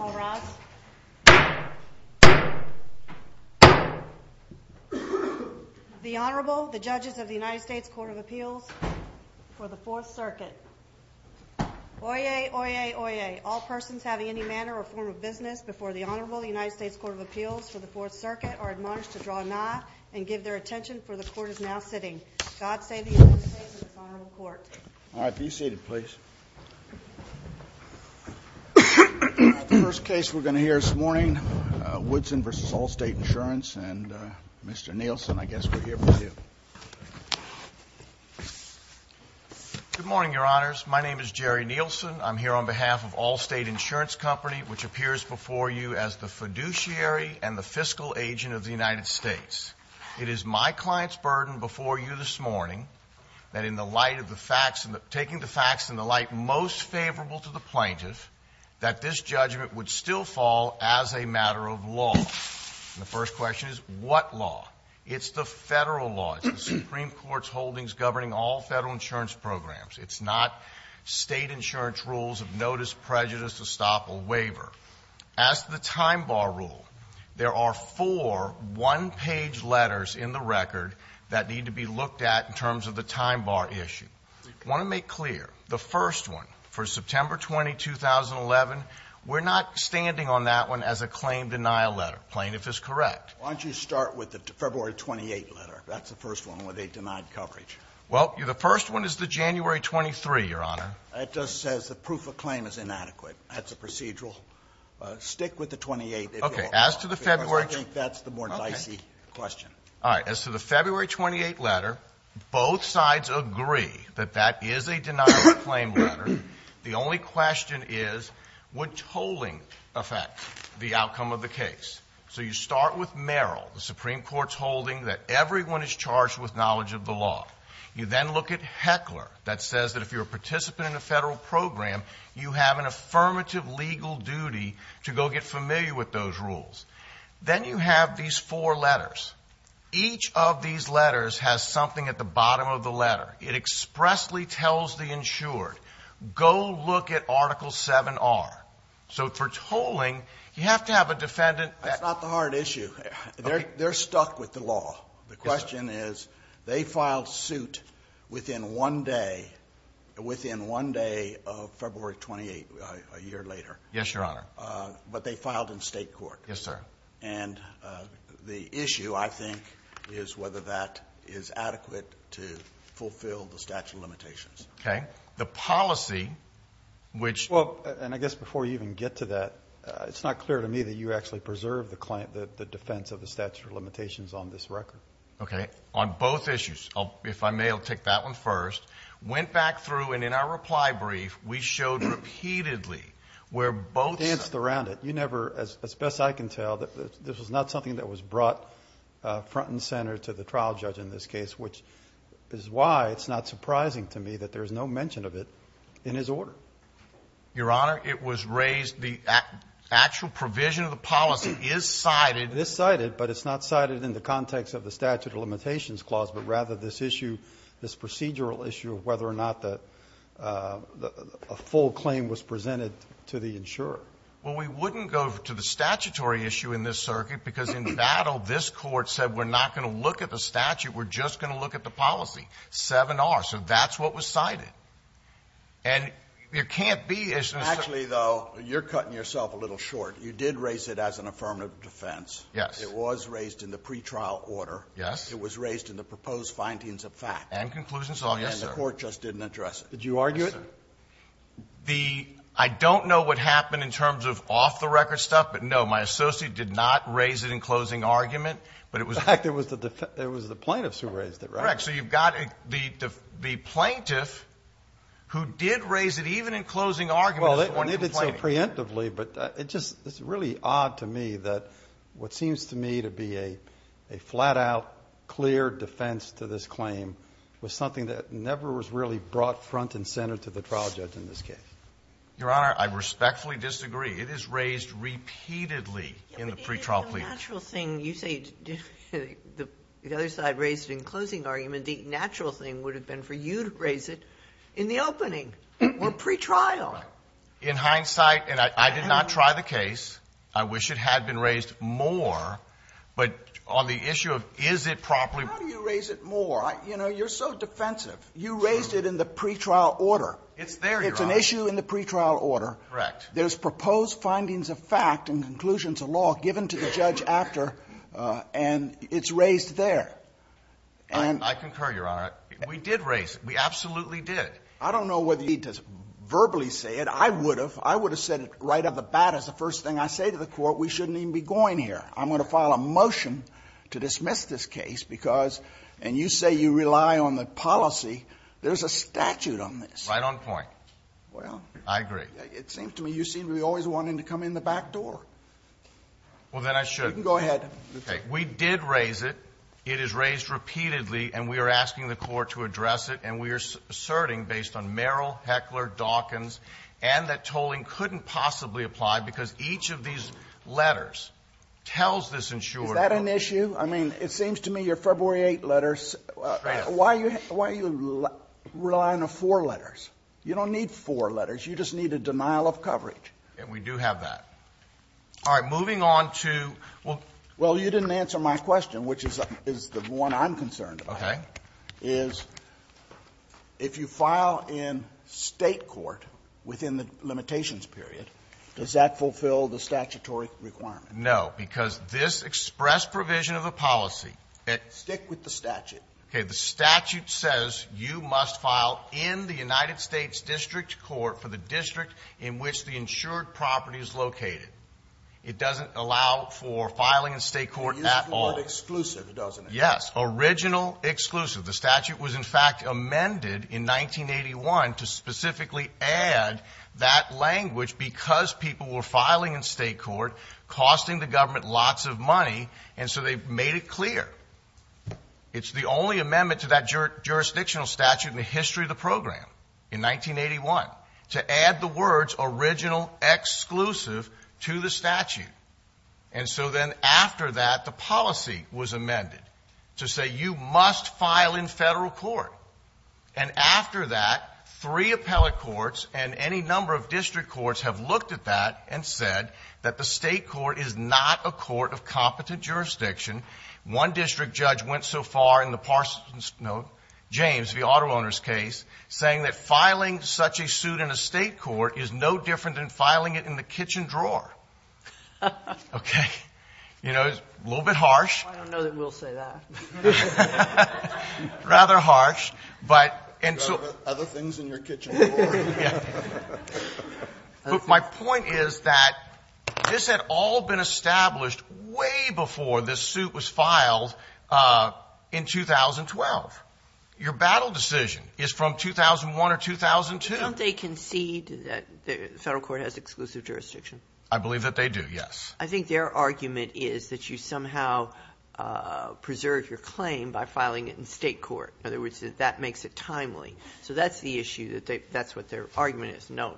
All rise. The Honorable, the Judges of the United States Court of Appeals for the Fourth Circuit. Oyez, oyez, oyez. All persons having any manner or form of business before the Honorable, the United States Court of Appeals for the Fourth Circuit are admonished to draw a knot and give their attention, for the Court is now sitting. God save the United States and this Honorable Court. All right, be seated please. The first case we're going to hear this morning, Woodson v. Allstate Insurance, and Mr. Nielsen, I guess we're here for you. Good morning, Your Honors. My name is Jerry Nielsen. I'm here on behalf of Allstate Insurance Company, which appears before you as the fiduciary and the fiscal agent of the United States. It is my client's burden before you this morning, that in the light of the facts, taking the facts in the light most favorable to the plaintiff, that this judgment would still fall as a matter of law. And the first question is, what law? It's the federal law. It's the Supreme Court's holdings governing all federal insurance programs. It's not state insurance rules of notice, prejudice, estoppel, waiver. As to the time bar rule, there are four one-page letters in the record that need to be looked at in terms of the time bar issue. I want to make clear, the first one, for September 20, 2011, we're not standing on that one as a claim denial letter. Plaintiff is correct. Why don't you start with the February 28 letter? That's the first one where they denied coverage. Well, the first one is the January 23, Your Honor. It just says the proof of claim is inadequate. That's a procedural. Stick with the 28, if you will. Okay. As to the February 28 letter, both sides agree that that is a denial of claim letter. The only question is, would tolling affect the outcome of the case? So you start with Merrill, the Supreme Court's holding that everyone is charged with knowledge of the law. You then look at Heckler, that says that if you're a participant in a federal program, you have an affirmative legal duty to go get familiar with those rules. Then you have these four letters. Each of these letters has something at the bottom of the letter. It expressly tells the insured, go look at Article 7-R. So for tolling, you have to have a defendant. That's not the hard issue. They're stuck with the law. The question is, they filed suit within one day, within one day of February 28, a year later. Yes, Your Honor. But they filed in state court. Yes, sir. And the issue, I think, is whether that is adequate to fulfill the statute of limitations. Okay. The policy, which... Well, and I guess before you even get to that, it's not clear to me that you actually preserved the defense of the statute of limitations on this record. Okay. On both issues. If I may, I'll take that one first. Went back through, and in our reply brief, we showed repeatedly where both... Danced around it. You never, as best I can tell, this was not something that was brought front and center to the trial judge in this case, which is why it's not surprising to me that there's no mention of it in his order. Your Honor, it was raised, the actual provision of the policy is cited... It's cited, but it's not cited in the context of the statute of limitations clause, but rather this issue, this procedural issue of whether or not a full claim was presented to the insurer. Well, we wouldn't go to the statutory issue in this circuit, because in battle, this Court said we're not going to look at the statute, we're just going to look at the policy. 7R. So that's what was cited. And there can't be... Actually, though, you're cutting yourself a little short. You did raise it as an affirmative defense. Yes. It was raised in the pretrial order. Yes. It was raised in the proposed findings of fact. And conclusions of... Yes, sir. And the Court just didn't address it. Did you argue it? Yes, sir. I don't know what happened in terms of off-the-record stuff, but, no, my associate did not raise it in closing argument, but it was... In fact, it was the plaintiffs who raised it, right? That's correct. So you've got the plaintiff who did raise it even in closing argument. Well, they did so preemptively, but it's just really odd to me that what seems to me to be a flat-out clear defense to this claim was something that never was really brought front and center to the trial judge in this case. Your Honor, I respectfully disagree. It is raised repeatedly in the pretrial plea. The natural thing you say the other side raised in closing argument, the natural thing would have been for you to raise it in the opening or pretrial. Right. In hindsight, and I did not try the case, I wish it had been raised more, but on the issue of is it properly... How do you raise it more? You know, you're so defensive. You raised it in the pretrial order. It's there, Your Honor. It's an issue in the pretrial order. Correct. There's proposed findings of fact and conclusions of law given to the judge after and it's raised there. And... I concur, Your Honor. We did raise it. We absolutely did. I don't know whether you need to verbally say it. I would have. I would have said it right out of the bat as the first thing I say to the Court, we shouldn't even be going here. I'm going to file a motion to dismiss this case because, and you say you rely on the policy, there's a statute on this. Right on point. Well... I agree. It seems to me you seem to be always wanting to come in the back door. Well, then I should. You can go ahead. Okay. We did raise it. It is raised repeatedly and we are asking the Court to address it and we are asserting based on Merrill, Heckler, Dawkins, and that tolling couldn't possibly apply because each of these letters tells this insurer... Is that an issue? I mean, it seems to me your February 8th letters... Why are you relying on four letters? You don't need four letters. You just need a denial of coverage. And we do have that. All right. Moving on to... Well, you didn't answer my question, which is the one I'm concerned about. Okay. Is if you file in State court within the limitations period, does that fulfill the statutory requirement? No. Because this express provision of the policy... Stick with the statute. Okay. The statute says you must file in the United States District Court for the district in which the insured property is located. It doesn't allow for filing in State court at all. It's not exclusive, doesn't it? Yes. Original exclusive. The statute was, in fact, amended in 1981 to specifically add that language because people were filing in State court, costing the government lots of money, and so they've made it clear. It's the only amendment to that jurisdictional statute in the history of the program in 1981 to add the words original exclusive to the statute. And so then after that, the policy was amended to say you must file in Federal court. And after that, three appellate courts and any number of district courts have looked at that and said that the State court is not a court of competent jurisdiction. One district judge went so far in the Parsons, no, James, the auto owner's case, saying that filing such a suit in a State court is no different than filing it in the kitchen drawer. Okay. You know, it's a little bit harsh. I don't know that we'll say that. Rather harsh, but... Other things in your kitchen drawer. But my point is that this had all been established way before this suit was filed in 2012. Your battle decision is from 2001 or 2002. Don't they concede that the Federal court has exclusive jurisdiction? I believe that they do, yes. I think their argument is that you somehow preserve your claim by filing it in State court. In other words, that that makes it timely. So that's the issue, that that's what their argument is. No,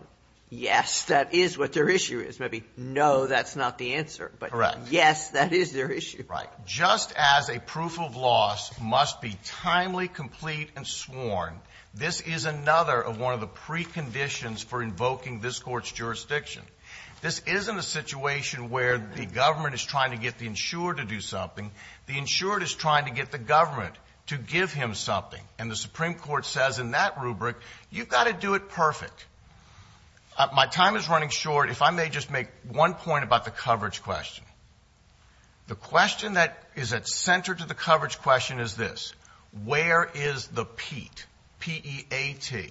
yes, that is what their issue is. Maybe no, that's not the answer. Correct. But yes, that is their issue. Right. Just as a proof of loss must be timely, complete, and sworn, this is another of one of the preconditions for invoking this Court's jurisdiction. This isn't a situation where the government is trying to get the insurer to do something. The insurer is trying to get the government to give him something. And the Supreme Court says in that rubric, you've got to do it perfect. My time is running short. If I may just make one point about the coverage question. The question that is at center to the coverage question is this. Where is the PEAT, P-E-A-T?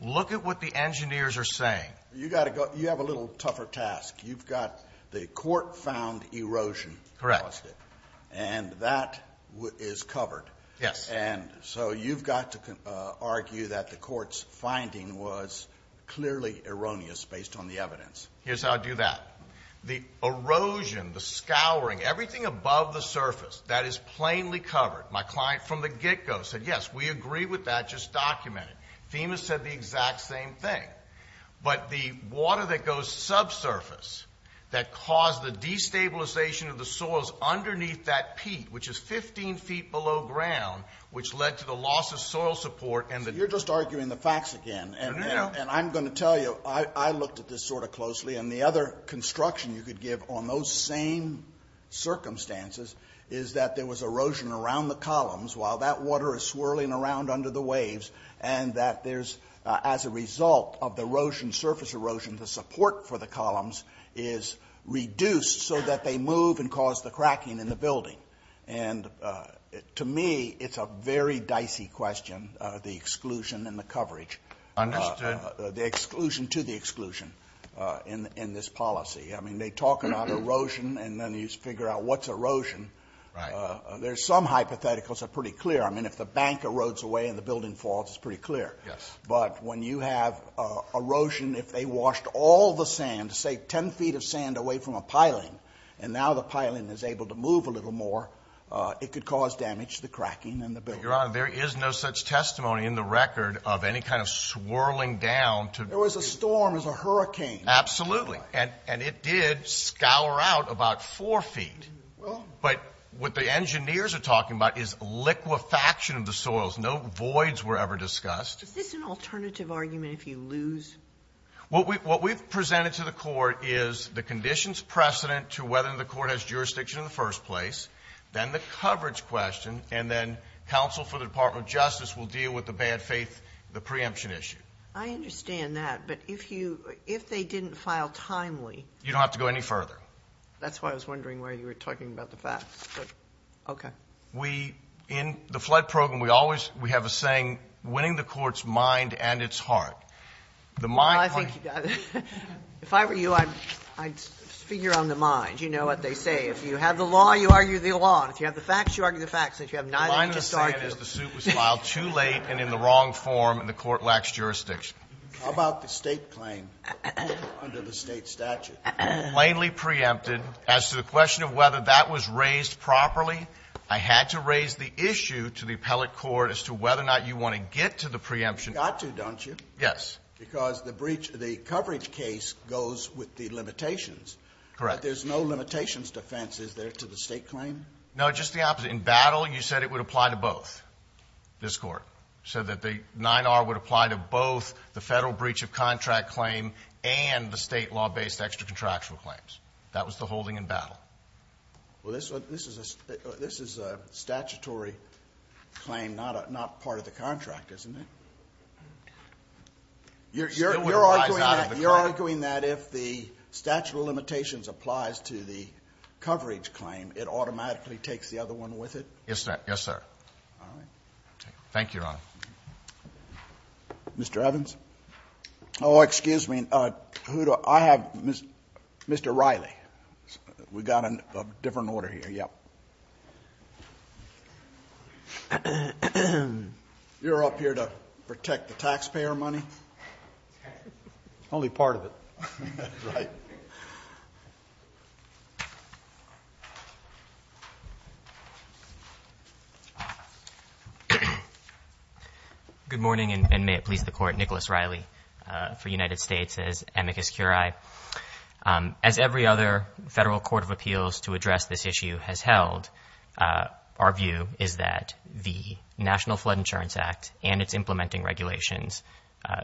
Look at what the engineers are saying. You've got to go, you have a little tougher task. You've got the court-found erosion. Correct. And that is covered. Yes. And so you've got to argue that the court's finding was clearly erroneous based on the evidence. Here's how I do that. The erosion, the scouring, everything above the surface, that is plainly covered. My client from the get-go said, yes, we agree with that just documented. FEMA said the exact same thing. But the water that goes subsurface that caused the destabilization of the soils underneath that PEAT, which is 15 feet below ground, which led to the loss of soil support. You're just arguing the facts again. And I'm going to tell you, I looked at this sort of closely, and the other construction you could give on those same circumstances is that there was erosion around the columns while that water is swirling around under the waves and that there's, as a result of the erosion, surface erosion, the support for the columns is reduced so that they move and cause the cracking in the building. And to me, it's a very dicey question, the exclusion and the coverage. Understood. The exclusion to the exclusion in this policy. I mean, they talk about erosion and then you figure out what's erosion. There's some hypotheticals that are pretty clear. I mean, if the bank erodes away and the building falls, it's pretty clear. Yes. But when you have erosion, if they washed all the sand, say 10 feet of sand away from a piling, and now the piling is able to move a little more, it could cause damage to the cracking in the building. Your Honor, there is no such testimony in the record of any kind of swirling down. There was a storm. It was a hurricane. Absolutely. And it did scour out about 4 feet. But what the engineers are talking about is liquefaction of the soils. No voids were ever discussed. Is this an alternative argument if you lose? What we've presented to the court is the conditions precedent to whether the court has jurisdiction in the first place, then the coverage question, and then counsel for the Department of Justice will deal with the bad faith, the preemption issue. I understand that. But if they didn't file timely. You don't have to go any further. That's why I was wondering why you were talking about the facts. Okay. In the flood program, we always have a saying, winning the court's mind and its heart. Well, I think you got it. If I were you, I'd figure on the mind. You know what they say. If you have the law, you argue the law. And if you have the facts, you argue the facts. And if you have neither, you just argue. My understanding is the suit was filed too late and in the wrong form, and the court lacks jurisdiction. How about the State claim under the State statute? Plainly preempted. As to the question of whether that was raised properly, I had to raise the issue to the appellate court as to whether or not you want to get to the preemption. You've got to, don't you? Yes. Because the coverage case goes with the limitations. Correct. But there's no limitations defense, is there, to the State claim? No, just the opposite. In battle, you said it would apply to both, this Court. You said that the 9R would apply to both the Federal breach of contract claim and the State law-based extra contractual claims. That was the holding in battle. Well, this is a statutory claim, not part of the contract, isn't it? You're arguing that if the statute of limitations applies to the coverage claim, it automatically takes the other one with it? Yes, sir. All right. Thank you, Your Honor. Mr. Evans? Oh, excuse me. I have Mr. Riley. We've got a different order here. Yep. You're up here to protect the taxpayer money? Only part of it. Right. Good morning, and may it please the Court. Nicholas Riley for United States, as amicus curiae. As every other Federal court of appeals to address this issue has held, our view is that the National Flood Insurance Act and its implementing regulations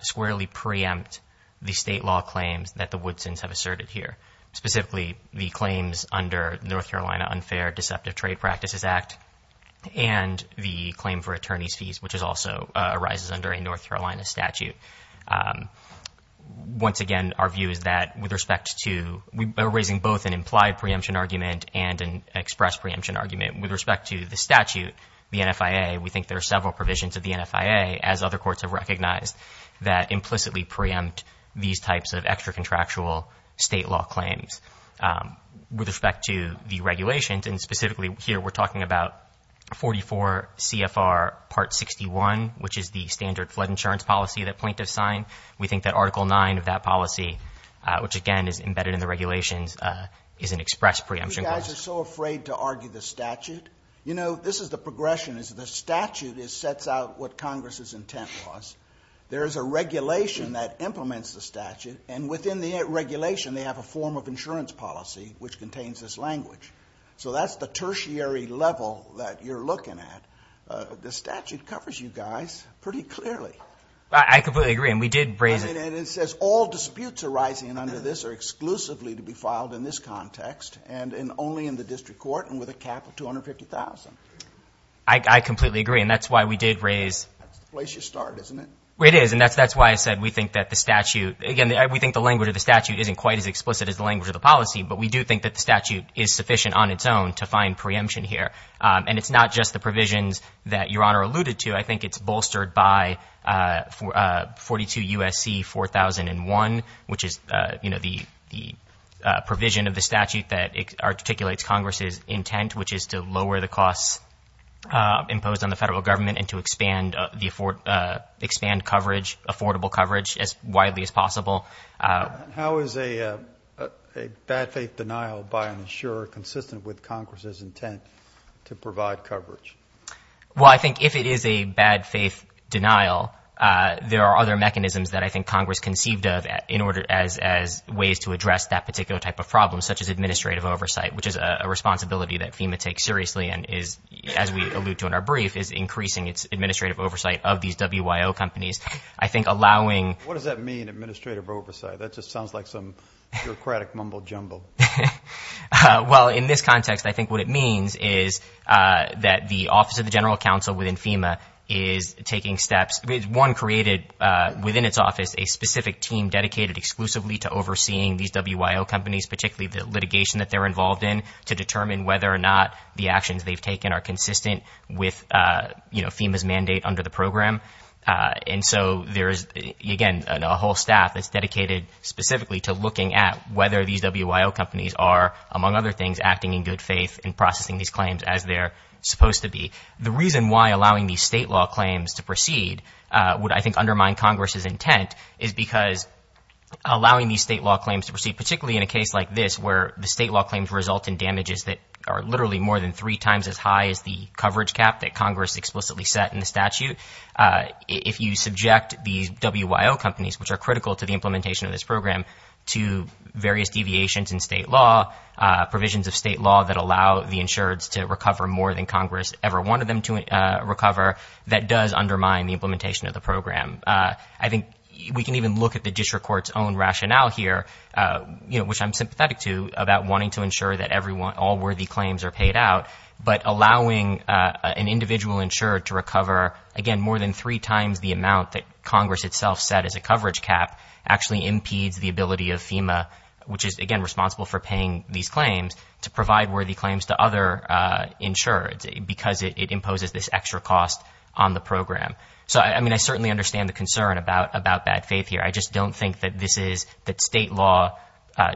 squarely preempt the State law claims that the Woodsons have asserted here, specifically the claims under North Carolina Unfair Deceptive Trade Practices Act and the claim for attorney's fees, which also arises under a North Carolina statute. Once again, our view is that with respect to raising both an implied preemption argument and an express preemption argument with respect to the statute, the NFIA, we think there are several provisions of the NFIA, as other courts have recognized, that implicitly preempt these types of extra-contractual State law claims. With respect to the regulations, and specifically here we're talking about 44 CFR Part 61, which is the standard flood insurance policy that plaintiffs sign, we think that Article 9 of that policy, which again is embedded in the regulations, is an express preemption clause. You guys are so afraid to argue the statute. You know, this is the progression. The statute sets out what Congress's intent was. There is a regulation that implements the statute, and within the regulation they have a form of insurance policy which contains this language. So that's the tertiary level that you're looking at. The statute covers you guys pretty clearly. I completely agree, and we did raise it. And it says all disputes arising under this are exclusively to be filed in this context and only in the district court and with a cap of $250,000. I completely agree, and that's why we did raise it. That's the place you start, isn't it? It is, and that's why I said we think that the statute, again, we think the language of the statute isn't quite as explicit as the language of the policy, but we do think that the statute is sufficient on its own to find preemption here. And it's not just the provisions that Your Honor alluded to. I think it's bolstered by 42 U.S.C. 4001, which is the provision of the statute that articulates Congress's intent, which is to lower the costs imposed on the federal government and to expand coverage, affordable coverage, as widely as possible. How is a bad faith denial by an insurer consistent with Congress's intent to provide coverage? Well, I think if it is a bad faith denial, there are other mechanisms that I think Congress conceived of as ways to address that particular type of problem, such as administrative oversight, which is a responsibility that FEMA takes seriously and is, as we allude to in our brief, is increasing its administrative oversight of these WIO companies. What does that mean, administrative oversight? That just sounds like some bureaucratic mumbo jumbo. Well, in this context, I think what it means is that the Office of the General Counsel within FEMA is taking steps. One created within its office a specific team dedicated exclusively to overseeing these WIO companies, particularly the litigation that they're involved in, to determine whether or not the actions they've taken are consistent with FEMA's mandate under the program. And so there is, again, a whole staff that's dedicated specifically to looking at whether these WIO companies are, among other things, acting in good faith in processing these claims as they're supposed to be. The reason why allowing these state law claims to proceed would, I think, undermine Congress's intent, is because allowing these state law claims to proceed, particularly in a case like this, where the state law claims result in damages that are literally more than three times as high as the coverage cap that Congress explicitly set in the statute, if you subject these WIO companies, which are critical to the implementation of this program, to various deviations in state law, provisions of state law that allow the insureds to recover more than Congress ever wanted them to recover, that does undermine the implementation of the program. I think we can even look at the district court's own rationale here, which I'm sympathetic to, about wanting to ensure that all worthy claims are paid out, but allowing an individual insured to recover, again, more than three times the amount that Congress itself set as a coverage cap, actually impedes the ability of FEMA, which is, again, responsible for paying these claims, to provide worthy claims to other insureds, because it imposes this extra cost on the program. So, I mean, I certainly understand the concern about bad faith here. I just don't think that this is, that state law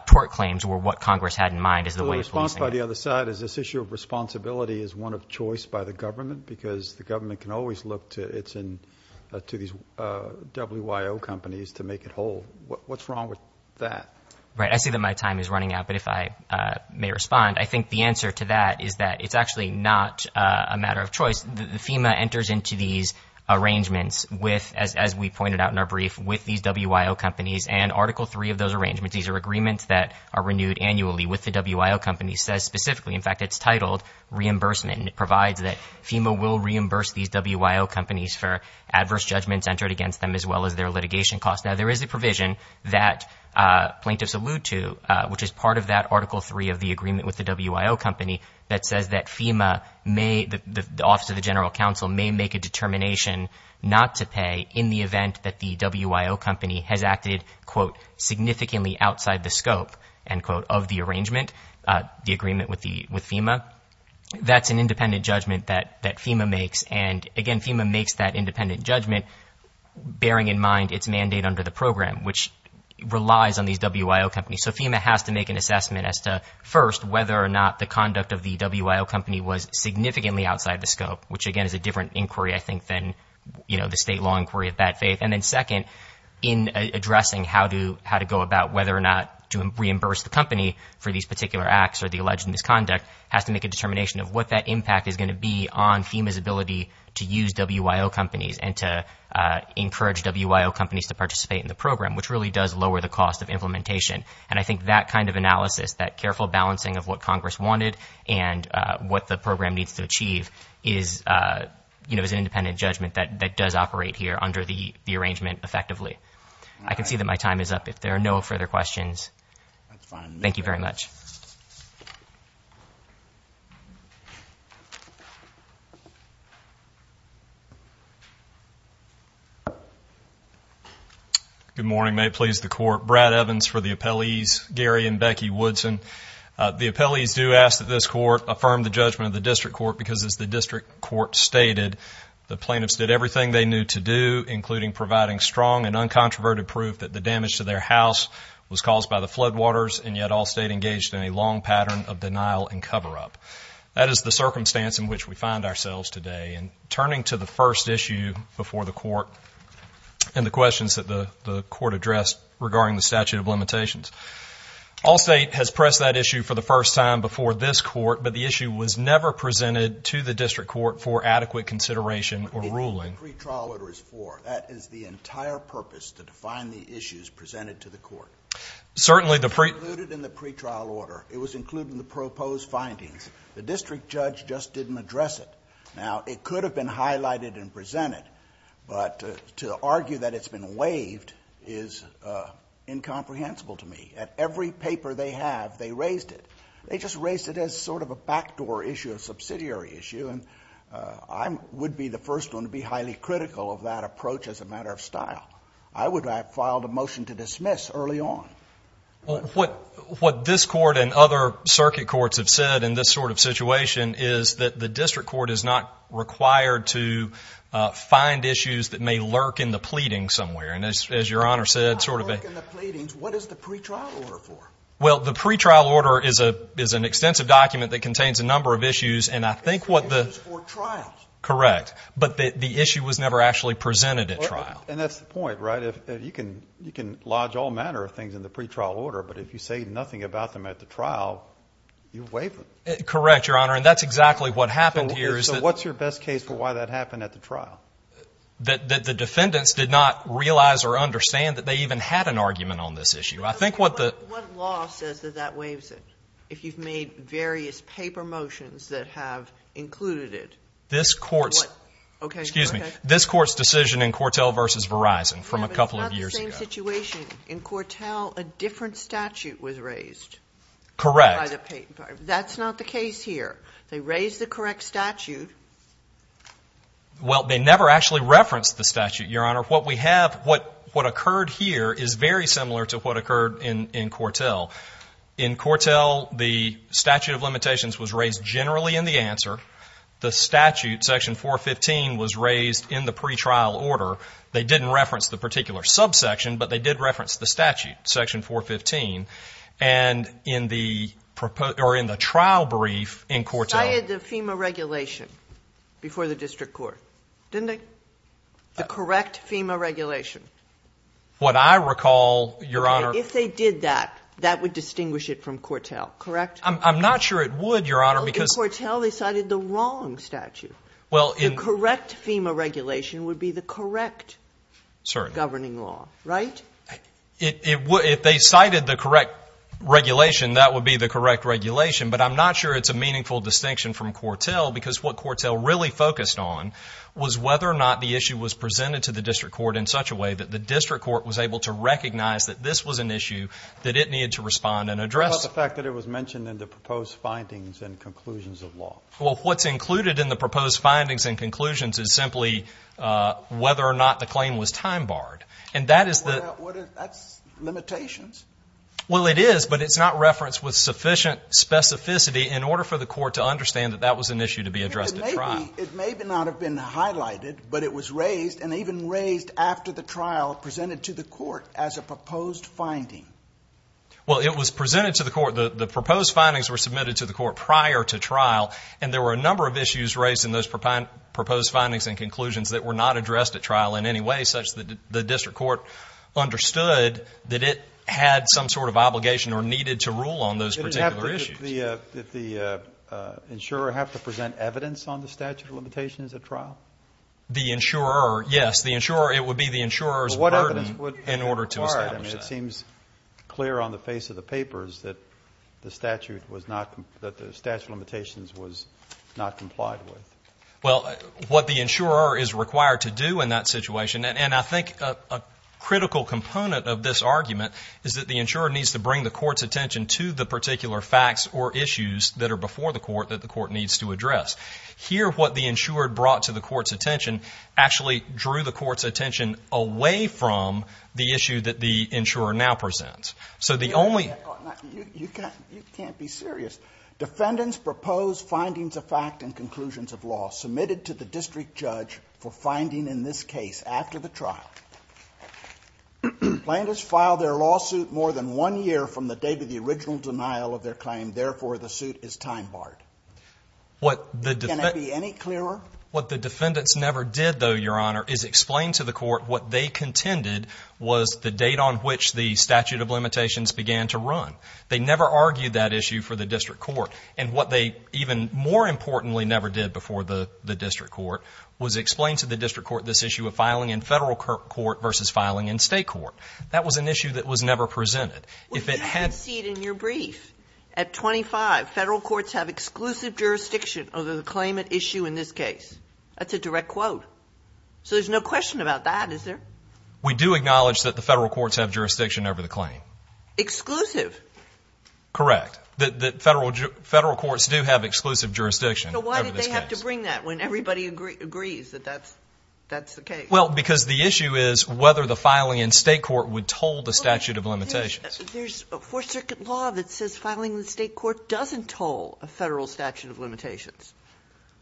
tort claims were what Congress had in mind. The response by the other side is this issue of responsibility is one of choice by the government, because the government can always look to these WIO companies to make it whole. What's wrong with that? Right. I see that my time is running out, but if I may respond, I think the answer to that is that it's actually not a matter of choice. FEMA enters into these arrangements with, as we pointed out in our brief, with these WIO companies, and Article III of those arrangements, these are agreements that are renewed annually with the WIO companies, says specifically, in fact, it's titled reimbursement, and it provides that FEMA will reimburse these WIO companies for adverse judgments entered against them as well as their litigation costs. Now, there is a provision that plaintiffs allude to, which is part of that Article III of the agreement with the WIO company, that says that FEMA may, the Office of the General Counsel, may make a determination not to pay in the event that the WIO company has acted, quote, significantly outside the scope, end quote, of the arrangement, the agreement with FEMA. That's an independent judgment that FEMA makes, and, again, FEMA makes that independent judgment, bearing in mind its mandate under the program, which relies on these WIO companies. So FEMA has to make an assessment as to, first, whether or not the conduct of the WIO company was significantly outside the scope, which, again, is a different inquiry, I think, than the state law inquiry of that faith. And then, second, in addressing how to go about whether or not to reimburse the company for these particular acts or the alleged misconduct, has to make a determination of what that impact is going to be on FEMA's ability to use WIO companies and to encourage WIO companies to participate in the program, which really does lower the cost of implementation. And I think that kind of analysis, that careful balancing of what Congress wanted and what the program needs to achieve is, you know, there is an independent judgment that does operate here under the arrangement effectively. I can see that my time is up. If there are no further questions, thank you very much. Good morning. May it please the Court. Brad Evans for the appellees, Gary and Becky Woodson. The appellees do ask that this Court affirm the judgment of the district court because, as the district court stated, the plaintiffs did everything they knew to do, including providing strong and uncontroverted proof that the damage to their house was caused by the floodwaters, and yet all state engaged in a long pattern of denial and cover-up. That is the circumstance in which we find ourselves today. And turning to the first issue before the court and the questions that the court addressed regarding the statute of limitations, all state has pressed that issue for the first time before this court, but the issue was never presented to the district court for adequate consideration or ruling. The pre-trial order is for. That is the entire purpose to define the issues presented to the court. Certainly the pre- It was included in the pre-trial order. It was included in the proposed findings. The district judge just didn't address it. Now, it could have been highlighted and presented, but to argue that it's been waived is incomprehensible to me. At every paper they have, they raised it. They just raised it as sort of a backdoor issue, a subsidiary issue, and I would be the first one to be highly critical of that approach as a matter of style. I would have filed a motion to dismiss early on. Well, what this court and other circuit courts have said in this sort of situation is that the district court is not required to find issues that may lurk in the pleading somewhere. And as Your Honor said, sort of a Not lurk in the pleadings. What is the pre-trial order for? Well, the pre-trial order is an extensive document that contains a number of issues, and I think what the Issues for trials. Correct. But the issue was never actually presented at trial. And that's the point, right? You can lodge all manner of things in the pre-trial order, but if you say nothing about them at the trial, you waive them. Correct, Your Honor, and that's exactly what happened here. So what's your best case for why that happened at the trial? That the defendants did not realize or understand that they even had an argument on this issue. I think what the What law says that that waives it, if you've made various paper motions that have included it? This court's Okay. Excuse me. This court's decision in Cortell v. Verizon from a couple of years ago. It's not the same situation. In Cortell, a different statute was raised. Correct. That's not the case here. They raised the correct statute. Well, they never actually referenced the statute, Your Honor. What occurred here is very similar to what occurred in Cortell. In Cortell, the statute of limitations was raised generally in the answer. The statute, Section 415, was raised in the pre-trial order. They didn't reference the particular subsection, but they did reference the statute, Section 415. And in the trial brief in Cortell I had the FEMA regulation before the district court, didn't I? The correct FEMA regulation. What I recall, Your Honor If they did that, that would distinguish it from Cortell, correct? I'm not sure it would, Your Honor, because In Cortell, they cited the wrong statute. The correct FEMA regulation would be the correct governing law, right? If they cited the correct regulation, that would be the correct regulation. But I'm not sure it's a meaningful distinction from Cortell, because what Cortell really focused on was whether or not the issue was presented to the district court in such a way that the district court was able to recognize that this was an issue that it needed to respond and address. What about the fact that it was mentioned in the proposed findings and conclusions of law? Well, what's included in the proposed findings and conclusions is simply whether or not the claim was time-barred. That's limitations. Well, it is, but it's not referenced with sufficient specificity in order for the court to understand that that was an issue to be addressed at trial. It may not have been highlighted, but it was raised, and even raised after the trial, presented to the court as a proposed finding. Well, it was presented to the court. The proposed findings were submitted to the court prior to trial, and there were a number of issues raised in those proposed findings and conclusions that were not addressed at trial in any way, such that the district court understood that it had some sort of obligation or needed to rule on those particular issues. Did the insurer have to present evidence on the statute of limitations at trial? The insurer, yes. The insurer, it would be the insurer's burden in order to establish that. But what evidence would be required? I mean, it seems clear on the face of the papers that the statute was not, that the statute of limitations was not complied with. Well, what the insurer is required to do in that situation, and I think a critical component of this argument, is that the insurer needs to bring the court's attention to the particular facts or issues that are before the court that the court needs to address. Here, what the insurer brought to the court's attention actually drew the court's attention away from the issue that the insurer now presents. So the only... You can't be serious. Defendants proposed findings of fact and conclusions of law submitted to the district judge for finding in this case after the trial. Plaintiffs filed their lawsuit more than one year from the date of the original denial of their claim. Therefore, the suit is time barred. Can it be any clearer? What the defendants never did, though, Your Honor, is explain to the court what they contended was the date on which the statute of limitations began to run. They never argued that issue for the district court. And what they even more importantly never did before the district court was explain to the district court this issue of filing in federal court versus filing in state court. That was an issue that was never presented. If it had... Well, you can see it in your brief. At 25, federal courts have exclusive jurisdiction over the claimant issue in this case. That's a direct quote. So there's no question about that, is there? We do acknowledge that the federal courts have jurisdiction over the claim. Exclusive? Correct. Federal courts do have exclusive jurisdiction over this case. So why did they have to bring that when everybody agrees that that's the case? Well, because the issue is whether the filing in state court would toll the statute of limitations. There's a Fourth Circuit law that says filing in state court doesn't toll a federal statute of limitations.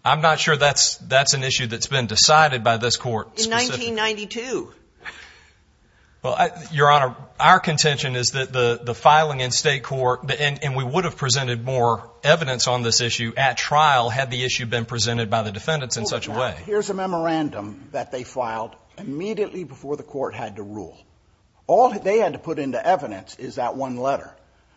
I'm not sure that's an issue that's been decided by this court specifically. In 1992. Well, Your Honor, our contention is that the filing in state court, and we would have presented more evidence on this issue at trial had the issue been presented by the defendants in such a way. Here's a memorandum that they filed immediately before the court had to rule. All they had to put into evidence is that one letter,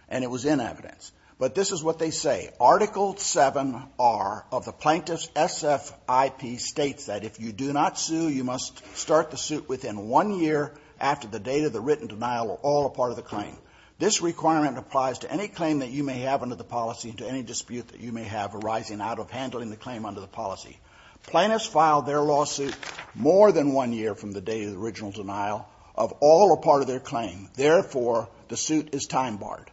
and it was in evidence. But this is what they say. Article 7R of the Plaintiff's SFIP states that if you do not sue, you must start the suit within one year after the date of the written denial of all or part of the claim. This requirement applies to any claim that you may have under the policy and to any dispute that you may have arising out of handling the claim under the policy. Plaintiffs file their lawsuit more than one year from the date of the original denial of all or part of their claim. Therefore, the suit is time barred.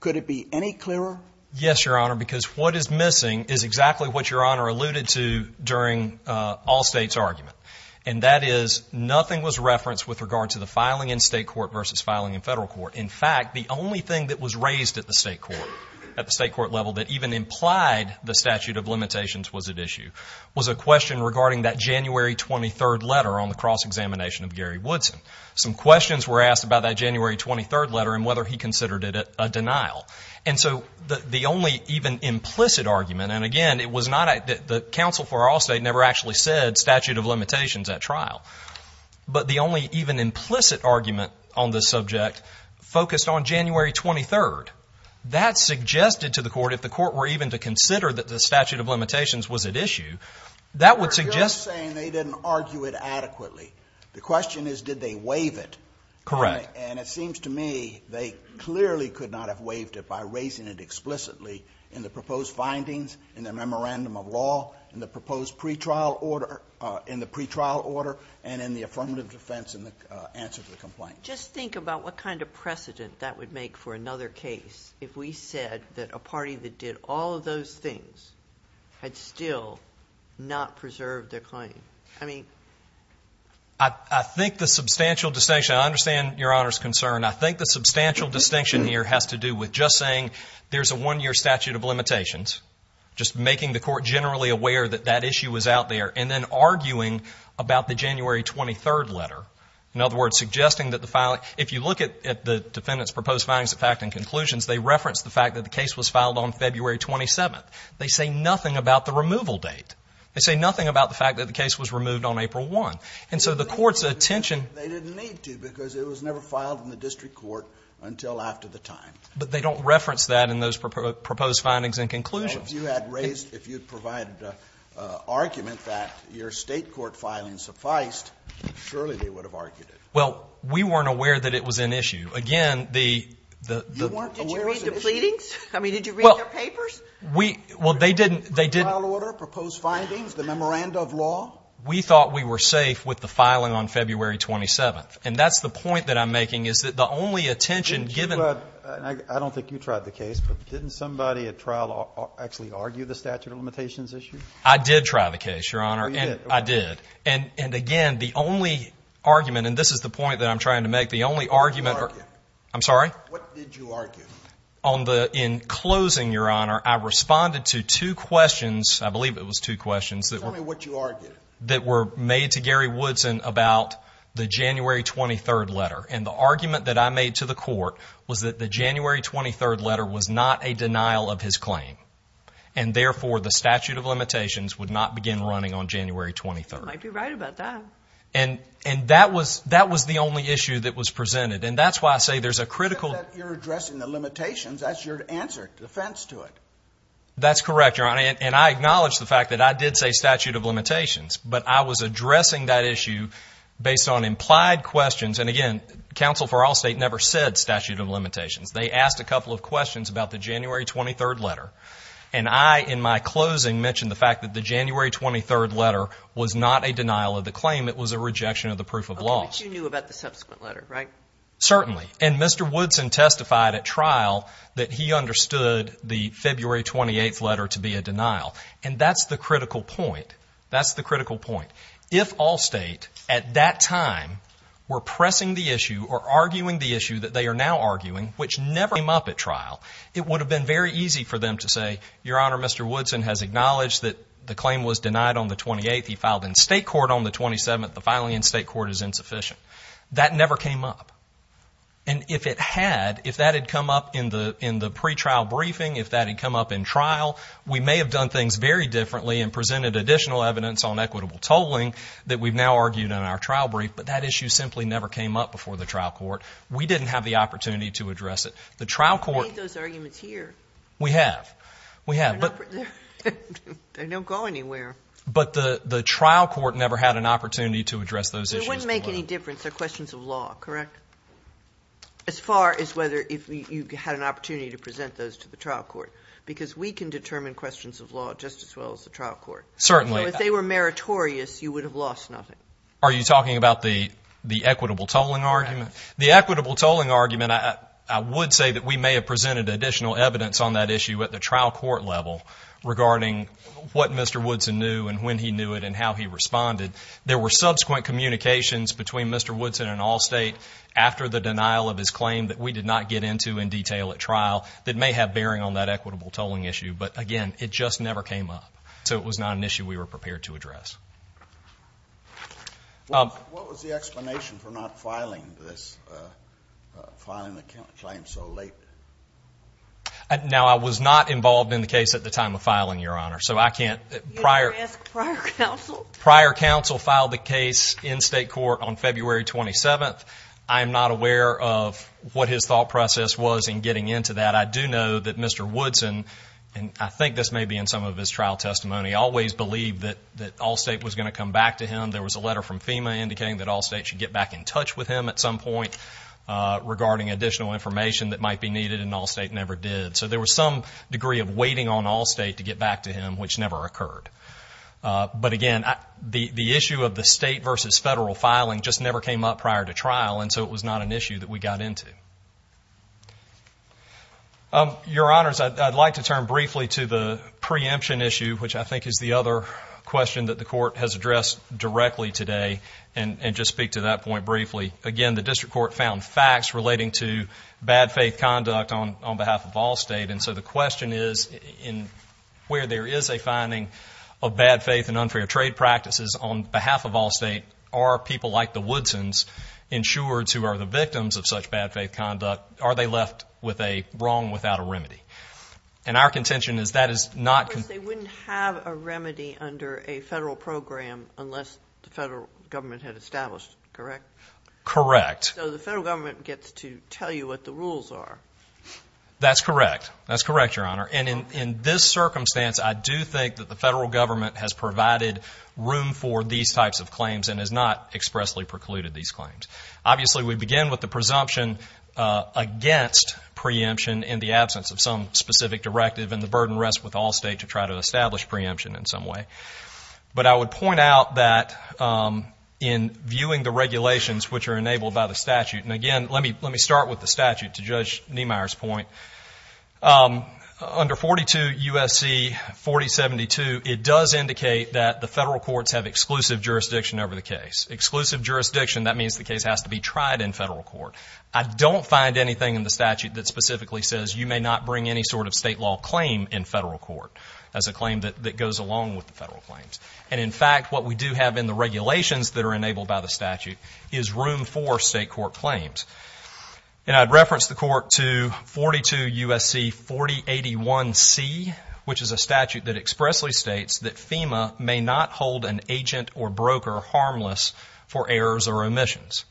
Could it be any clearer? Yes, Your Honor, because what is missing is exactly what Your Honor alluded to during Allstate's argument. And that is nothing was referenced with regard to the filing in state court versus filing in federal court. In fact, the only thing that was raised at the state court, at the state court level that even implied the statute of limitations was at issue, was a question regarding that January 23rd letter on the cross-examination of Gary Woodson. Some questions were asked about that January 23rd letter and whether he considered it a denial. And so the only even implicit argument, and again, it was not that the counsel for Allstate never actually said statute of limitations at trial. But the only even implicit argument on this subject focused on January 23rd. That suggested to the court, if the court were even to consider that the statute of limitations was at issue, that would suggest. You're saying they didn't argue it adequately. The question is did they waive it. Correct. And it seems to me they clearly could not have waived it by raising it explicitly in the proposed findings, in the memorandum of law, in the proposed pretrial order, in the pretrial order, and in the affirmative defense in the answer to the complaint. Just think about what kind of precedent that would make for another case if we said that a party that did all of those things had still not preserved their claim. I mean. I think the substantial distinction, I understand Your Honor's concern. I think the substantial distinction here has to do with just saying there's a one-year statute of limitations, just making the court generally aware that that issue was out there, and then arguing about the January 23rd letter. In other words, suggesting that the filing, if you look at the defendant's proposed findings of fact and conclusions, they reference the fact that the case was filed on February 27th. They say nothing about the removal date. They say nothing about the fact that the case was removed on April 1. And so the court's attention. They didn't need to because it was never filed in the district court until after the time. But they don't reference that in those proposed findings and conclusions. Well, if you had raised, if you had provided an argument that your state court filing sufficed, surely they would have argued it. Well, we weren't aware that it was an issue. Again, the... You weren't aware it was an issue? Did you read the pleadings? I mean, did you read their papers? Well, they didn't... The pretrial order, proposed findings, the memorandum of law? We thought we were safe with the filing on February 27th. And that's the point that I'm making is that the only attention given... Didn't you... And I don't think you tried the case, but didn't somebody at trial actually argue the statute of limitations issue? I did try the case, Your Honor. Oh, you did? I did. And, again, the only argument... And this is the point that I'm trying to make. The only argument... What did you argue? I'm sorry? What did you argue? On the... In closing, Your Honor, I responded to two questions... I believe it was two questions that were... Tell me what you argued. That were made to Gary Woodson about the January 23rd letter. And the argument that I made to the court was that the January 23rd letter was not a denial of his claim. And, therefore, the statute of limitations would not begin running on January 23rd. You might be right about that. And... And that was... That was the only issue that was presented. And that's why I say there's a critical... You're addressing the limitations. That's your answer. Defense to it. That's correct, Your Honor. And I acknowledge the fact that I did say statute of limitations. But I was addressing that issue based on implied questions. And, again, counsel for Allstate never said statute of limitations. They asked a couple of questions about the January 23rd letter. And I, in my closing, mentioned the fact that the January 23rd letter was not a denial of the claim. It was a rejection of the proof of law. But you knew about the subsequent letter, right? Certainly. And Mr. Woodson testified at trial that he understood the February 28th letter to be a denial. And that's the critical point. That's the critical point. If Allstate, at that time, were pressing the issue or arguing the issue that they are now arguing, which never came up at trial, it would have been very easy for them to say, Your Honor, Mr. Woodson has acknowledged that the claim was denied on the 28th. He filed in state court on the 27th. The filing in state court is insufficient. That never came up. And if it had, if that had come up in the pretrial briefing, if that had come up in trial, we may have done things very differently and presented additional evidence on equitable tolling that we've now argued in our trial brief. But that issue simply never came up before the trial court. We didn't have the opportunity to address it. You've made those arguments here. We have. They don't go anywhere. But the trial court never had an opportunity to address those issues. It wouldn't make any difference. They're questions of law, correct? As far as whether you had an opportunity to present those to the trial court. Because we can determine questions of law just as well as the trial court. Certainly. If they were meritorious, you would have lost nothing. Are you talking about the equitable tolling argument? The equitable tolling argument, I would say that we may have presented additional evidence on that issue at the trial court level regarding what Mr. Woodson knew and when he knew it and how he responded. There were subsequent communications between Mr. Woodson and Allstate after the denial of his claim that we did not get into in detail at trial that may have bearing on that equitable tolling issue. But, again, it just never came up. So it was not an issue we were prepared to address. What was the explanation for not filing the claim so late? Now, I was not involved in the case at the time of filing, Your Honor. You didn't ask prior counsel. Prior counsel filed the case in state court on February 27th. I am not aware of what his thought process was in getting into that. I do know that Mr. Woodson, and I think this may be in some of his trial testimony, always believed that Allstate was going to come back to him. There was a letter from FEMA indicating that Allstate should get back in touch with him at some point regarding additional information that might be needed, and Allstate never did. So there was some degree of waiting on Allstate to get back to him, which never occurred. But, again, the issue of the state versus federal filing just never came up prior to trial, and so it was not an issue that we got into. Your Honors, I'd like to turn briefly to the preemption issue, which I think is the other question that the Court has addressed directly today, and just speak to that point briefly. Again, the district court found facts relating to bad faith conduct on behalf of Allstate, and so the question is where there is a finding of bad faith and unfair trade practices on behalf of Allstate, are people like the Woodsons, insureds who are the victims of such bad faith conduct, are they left with a wrong without a remedy? And our contention is that is not... They wouldn't have a remedy under a federal program unless the federal government had established it, correct? Correct. So the federal government gets to tell you what the rules are. That's correct. That's correct, Your Honor. And in this circumstance, I do think that the federal government has provided room for these types of claims and has not expressly precluded these claims. Obviously, we begin with the presumption against preemption in the absence of some specific directive, and the burden rests with Allstate to try to establish preemption in some way. But I would point out that in viewing the regulations which are enabled by the statute, and again, let me start with the statute to Judge Niemeyer's point. Under 42 U.S.C. 4072, it does indicate that the federal courts have exclusive jurisdiction over the case. Exclusive jurisdiction, that means the case has to be tried in federal court. I don't find anything in the statute that specifically says you may not bring any sort of state law claim in federal court as a claim that goes along with the federal claims. And in fact, what we do have in the regulations that are enabled by the statute is room for state court claims. And I'd reference the court to 42 U.S.C. 4081C, which is a statute that expressly states that FEMA may not hold an agent or broker harmless for errors or omissions.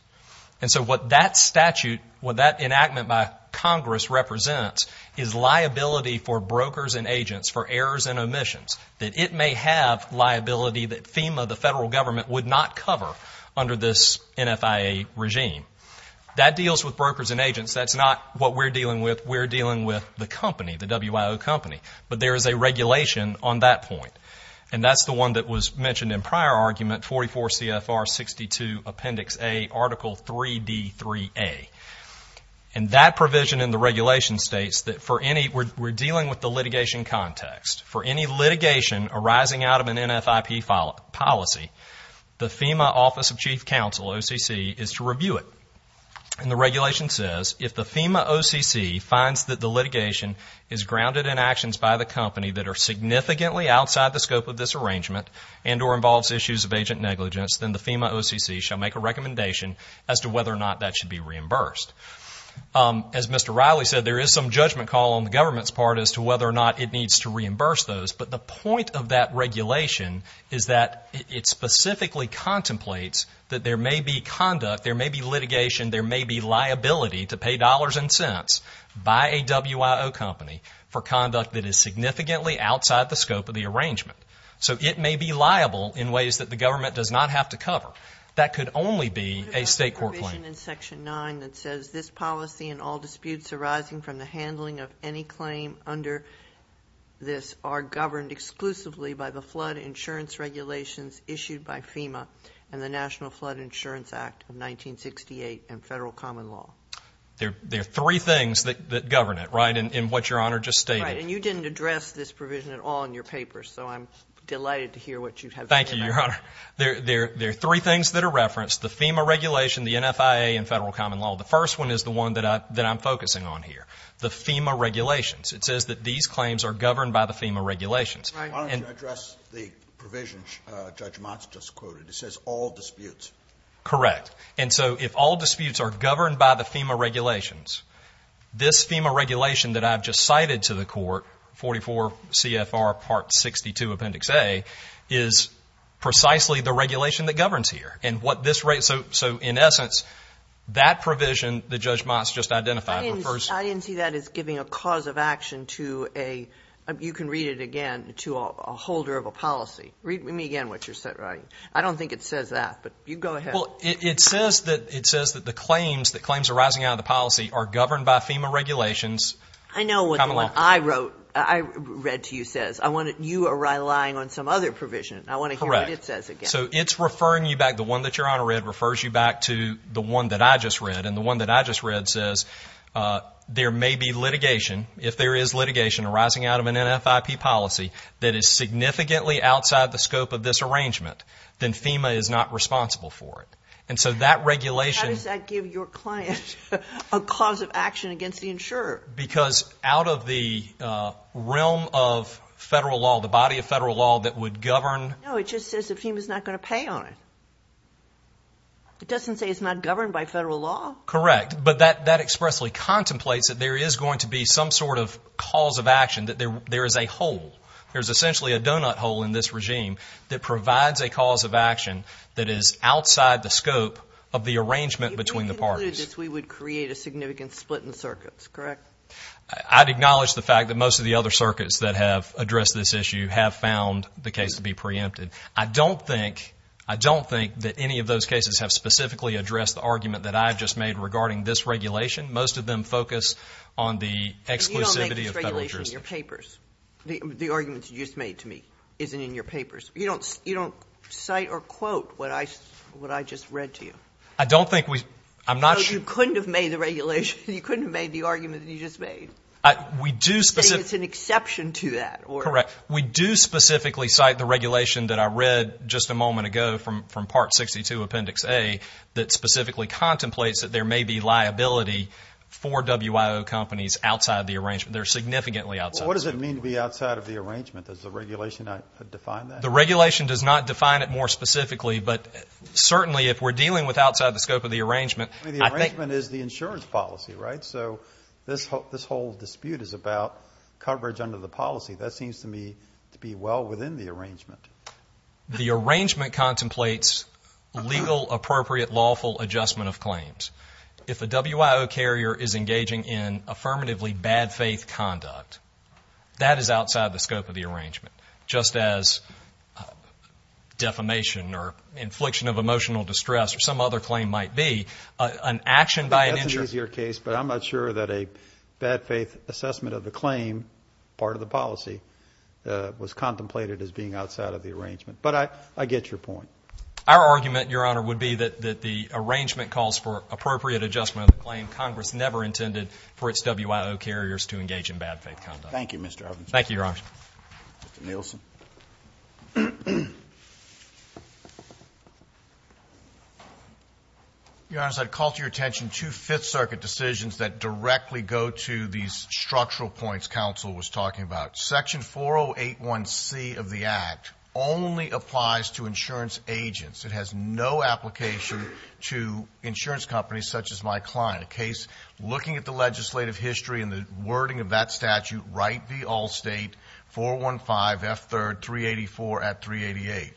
And so what that statute, what that enactment by Congress represents, is liability for brokers and agents for errors and omissions, that it may have liability that FEMA, the federal government, would not cover under this NFIA regime. That deals with brokers and agents. That's not what we're dealing with. We're dealing with the company, the WIO company. But there is a regulation on that point, and that's the one that was mentioned in prior argument, 44 CFR 62 Appendix A, Article 3D3A. And that provision in the regulation states that we're dealing with the litigation context. For any litigation arising out of an NFIP policy, the FEMA Office of Chief Counsel, OCC, is to review it. And the regulation says if the FEMA OCC finds that the litigation is grounded in actions by the company that are significantly outside the scope of this arrangement and or involves issues of agent negligence, then the FEMA OCC shall make a recommendation as to whether or not that should be reimbursed. As Mr. Riley said, there is some judgment call on the government's part as to whether or not it needs to reimburse those. But the point of that regulation is that it specifically contemplates that there may be conduct, there may be litigation, there may be liability to pay dollars and cents by a WIO company for conduct that is significantly outside the scope of the arrangement. So it may be liable in ways that the government does not have to cover. That could only be a state court claim. What about the provision in Section 9 that says this policy and all disputes arising from the handling of any claim under this are governed exclusively by the flood insurance regulations issued by FEMA and the National Flood Insurance Act of 1968 and federal common law? There are three things that govern it, right, in what Your Honor just stated. Right. And you didn't address this provision at all in your paper, so I'm delighted to hear what you have to say about it. Thank you, Your Honor. There are three things that are referenced, the FEMA regulation, the NFIA, and federal common law. The first one is the one that I'm focusing on here, the FEMA regulations. It says that these claims are governed by the FEMA regulations. Why don't you address the provision Judge Motz just quoted? It says all disputes. Correct. Correct. And so if all disputes are governed by the FEMA regulations, this FEMA regulation that I've just cited to the court, 44 CFR Part 62 Appendix A, is precisely the regulation that governs here. So in essence, that provision that Judge Motz just identified. I didn't see that as giving a cause of action to a, you can read it again, to a holder of a policy. Read me again what you're writing. I don't think it says that, but you go ahead. Well, it says that the claims, that claims arising out of the policy are governed by FEMA regulations. I know what the one I wrote, I read to you says. I want to, you are relying on some other provision. I want to hear what it says again. Correct. So it's referring you back, the one that Your Honor read refers you back to the one that I just read, and the one that I just read says there may be litigation, if there is litigation arising out of an NFIP policy that is significantly outside the scope of this arrangement, then FEMA is not responsible for it. And so that regulation. How does that give your client a cause of action against the insurer? Because out of the realm of federal law, the body of federal law that would govern. No, it just says that FEMA is not going to pay on it. It doesn't say it's not governed by federal law. Correct. But that expressly contemplates that there is going to be some sort of cause of action, that there is a hole. There is essentially a donut hole in this regime that provides a cause of action that is outside the scope of the arrangement between the parties. If we included this, we would create a significant split in the circuits, correct? I'd acknowledge the fact that most of the other circuits that have addressed this issue have found the case to be preempted. I don't think, I don't think that any of those cases have specifically addressed the argument that I have just made regarding this regulation. Most of them focus on the exclusivity of federal jurisdiction. And you don't make this regulation in your papers. The argument you just made to me isn't in your papers. You don't cite or quote what I just read to you. I don't think we, I'm not sure. No, you couldn't have made the regulation, you couldn't have made the argument that you just made. We do. You say it's an exception to that. Correct. We do specifically cite the regulation that I read just a moment ago from Part 62, Appendix A, that specifically contemplates that there may be liability for WIO companies outside the arrangement. They're significantly outside. What does it mean to be outside of the arrangement? Does the regulation define that? The regulation does not define it more specifically. But certainly if we're dealing with outside the scope of the arrangement, I think. The arrangement is the insurance policy, right? So this whole dispute is about coverage under the policy. That seems to me to be well within the arrangement. The arrangement contemplates legal, appropriate, lawful adjustment of claims. If a WIO carrier is engaging in affirmatively bad faith conduct, that is outside the scope of the arrangement, just as defamation or infliction of emotional distress or some other claim might be an action by an insurance. That is your case, but I'm not sure that a bad faith assessment of the claim, part of the policy, was contemplated as being outside of the arrangement. But I get your point. Our argument, Your Honor, would be that the arrangement calls for appropriate adjustment of the claim Congress never intended for its WIO carriers to engage in bad faith conduct. Thank you, Mr. Robinson. Thank you, Your Honor. Mr. Nielsen. Your Honor, I'd call to your attention two Fifth Circuit decisions that directly go to these structural points counsel was talking about. Section 4081C of the Act only applies to insurance agents. It has no application to insurance companies such as my client, a case looking at the legislative history and the wording of that statute, 415F3, 384 at 388,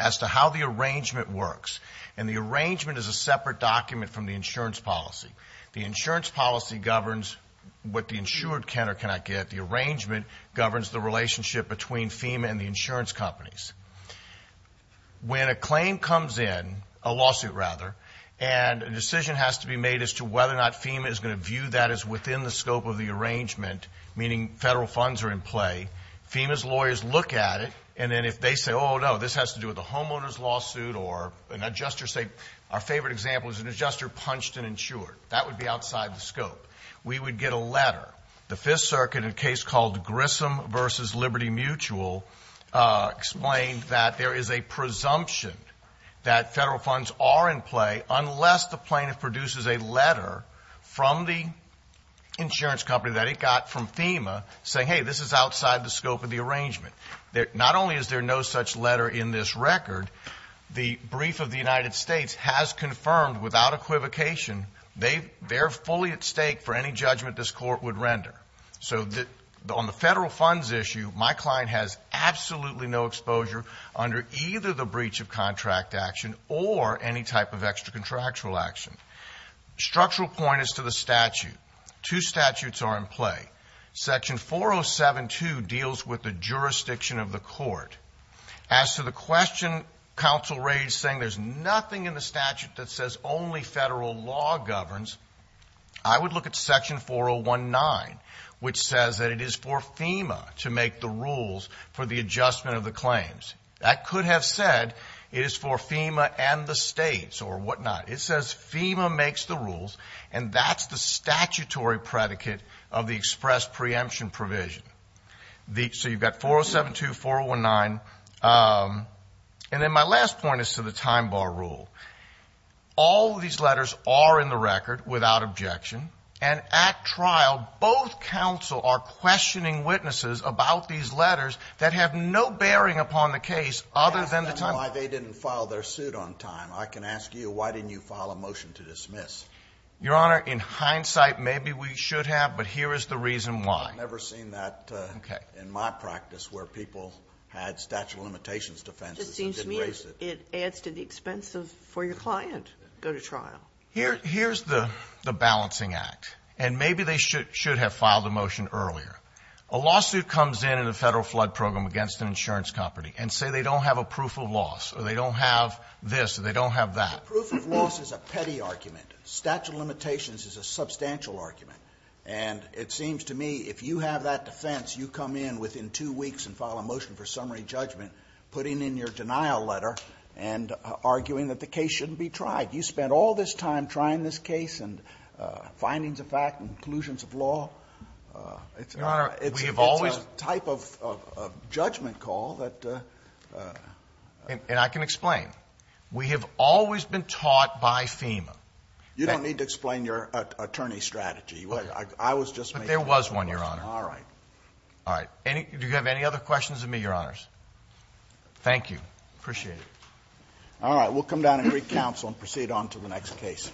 as to how the arrangement works. And the arrangement is a separate document from the insurance policy. The insurance policy governs what the insured can or cannot get. The arrangement governs the relationship between FEMA and the insurance companies. When a claim comes in, a lawsuit rather, and a decision has to be made as to whether or not FEMA is going to view that as within the scope of the arrangement, meaning federal funds are in play, FEMA's lawyers look at it, and then if they say, oh, no, this has to do with a homeowner's lawsuit or an adjuster, say our favorite example is an adjuster punched an insured. That would be outside the scope. We would get a letter. The Fifth Circuit, in a case called Grissom v. Liberty Mutual, explained that there is a presumption that federal funds are in play unless the plaintiff produces a letter from the insurance company that he got from FEMA saying, hey, this is outside the scope of the arrangement. Not only is there no such letter in this record, the brief of the United States has confirmed without equivocation they're fully at stake for any judgment this court would render. So on the federal funds issue, my client has absolutely no exposure under either the breach of contract action or any type of extra-contractual action. Structural point is to the statute. Two statutes are in play. Section 4072 deals with the jurisdiction of the court. As to the question counsel raised saying there's nothing in the statute that says only federal law governs, I would look at section 4019, which says that it is for FEMA to make the rules for the adjustment of the claims. That could have said it is for FEMA and the states or whatnot. It says FEMA makes the rules, and that's the statutory predicate of the express preemption provision. So you've got 4072, 4019. And then my last point is to the time bar rule. All of these letters are in the record without objection, and at trial, both counsel are questioning witnesses about these letters that have no bearing upon the case other than the time bar. Why they didn't file their suit on time, I can ask you, why didn't you file a motion to dismiss? Your Honor, in hindsight, maybe we should have, but here is the reason why. I've never seen that in my practice where people had statute of limitations defenses and didn't raise it. It seems to me it adds to the expense for your client to go to trial. Here's the balancing act, and maybe they should have filed the motion earlier. A lawsuit comes in in a Federal flood program against an insurance company and say they don't have a proof of loss or they don't have this or they don't have that. The proof of loss is a petty argument. Statute of limitations is a substantial argument. And it seems to me if you have that defense, you come in within two weeks and file a motion for summary judgment, putting in your denial letter and arguing that the case shouldn't be tried. You spent all this time trying this case and findings of fact, conclusions of law. Your Honor, we have always. It's a type of judgment call that. And I can explain. We have always been taught by FEMA. You don't need to explain your attorney strategy. I was just making a motion. But there was one, Your Honor. All right. All right. Do you have any other questions of me, Your Honors? Thank you. Appreciate it. All right. We'll come down and recounsel and proceed on to the next case.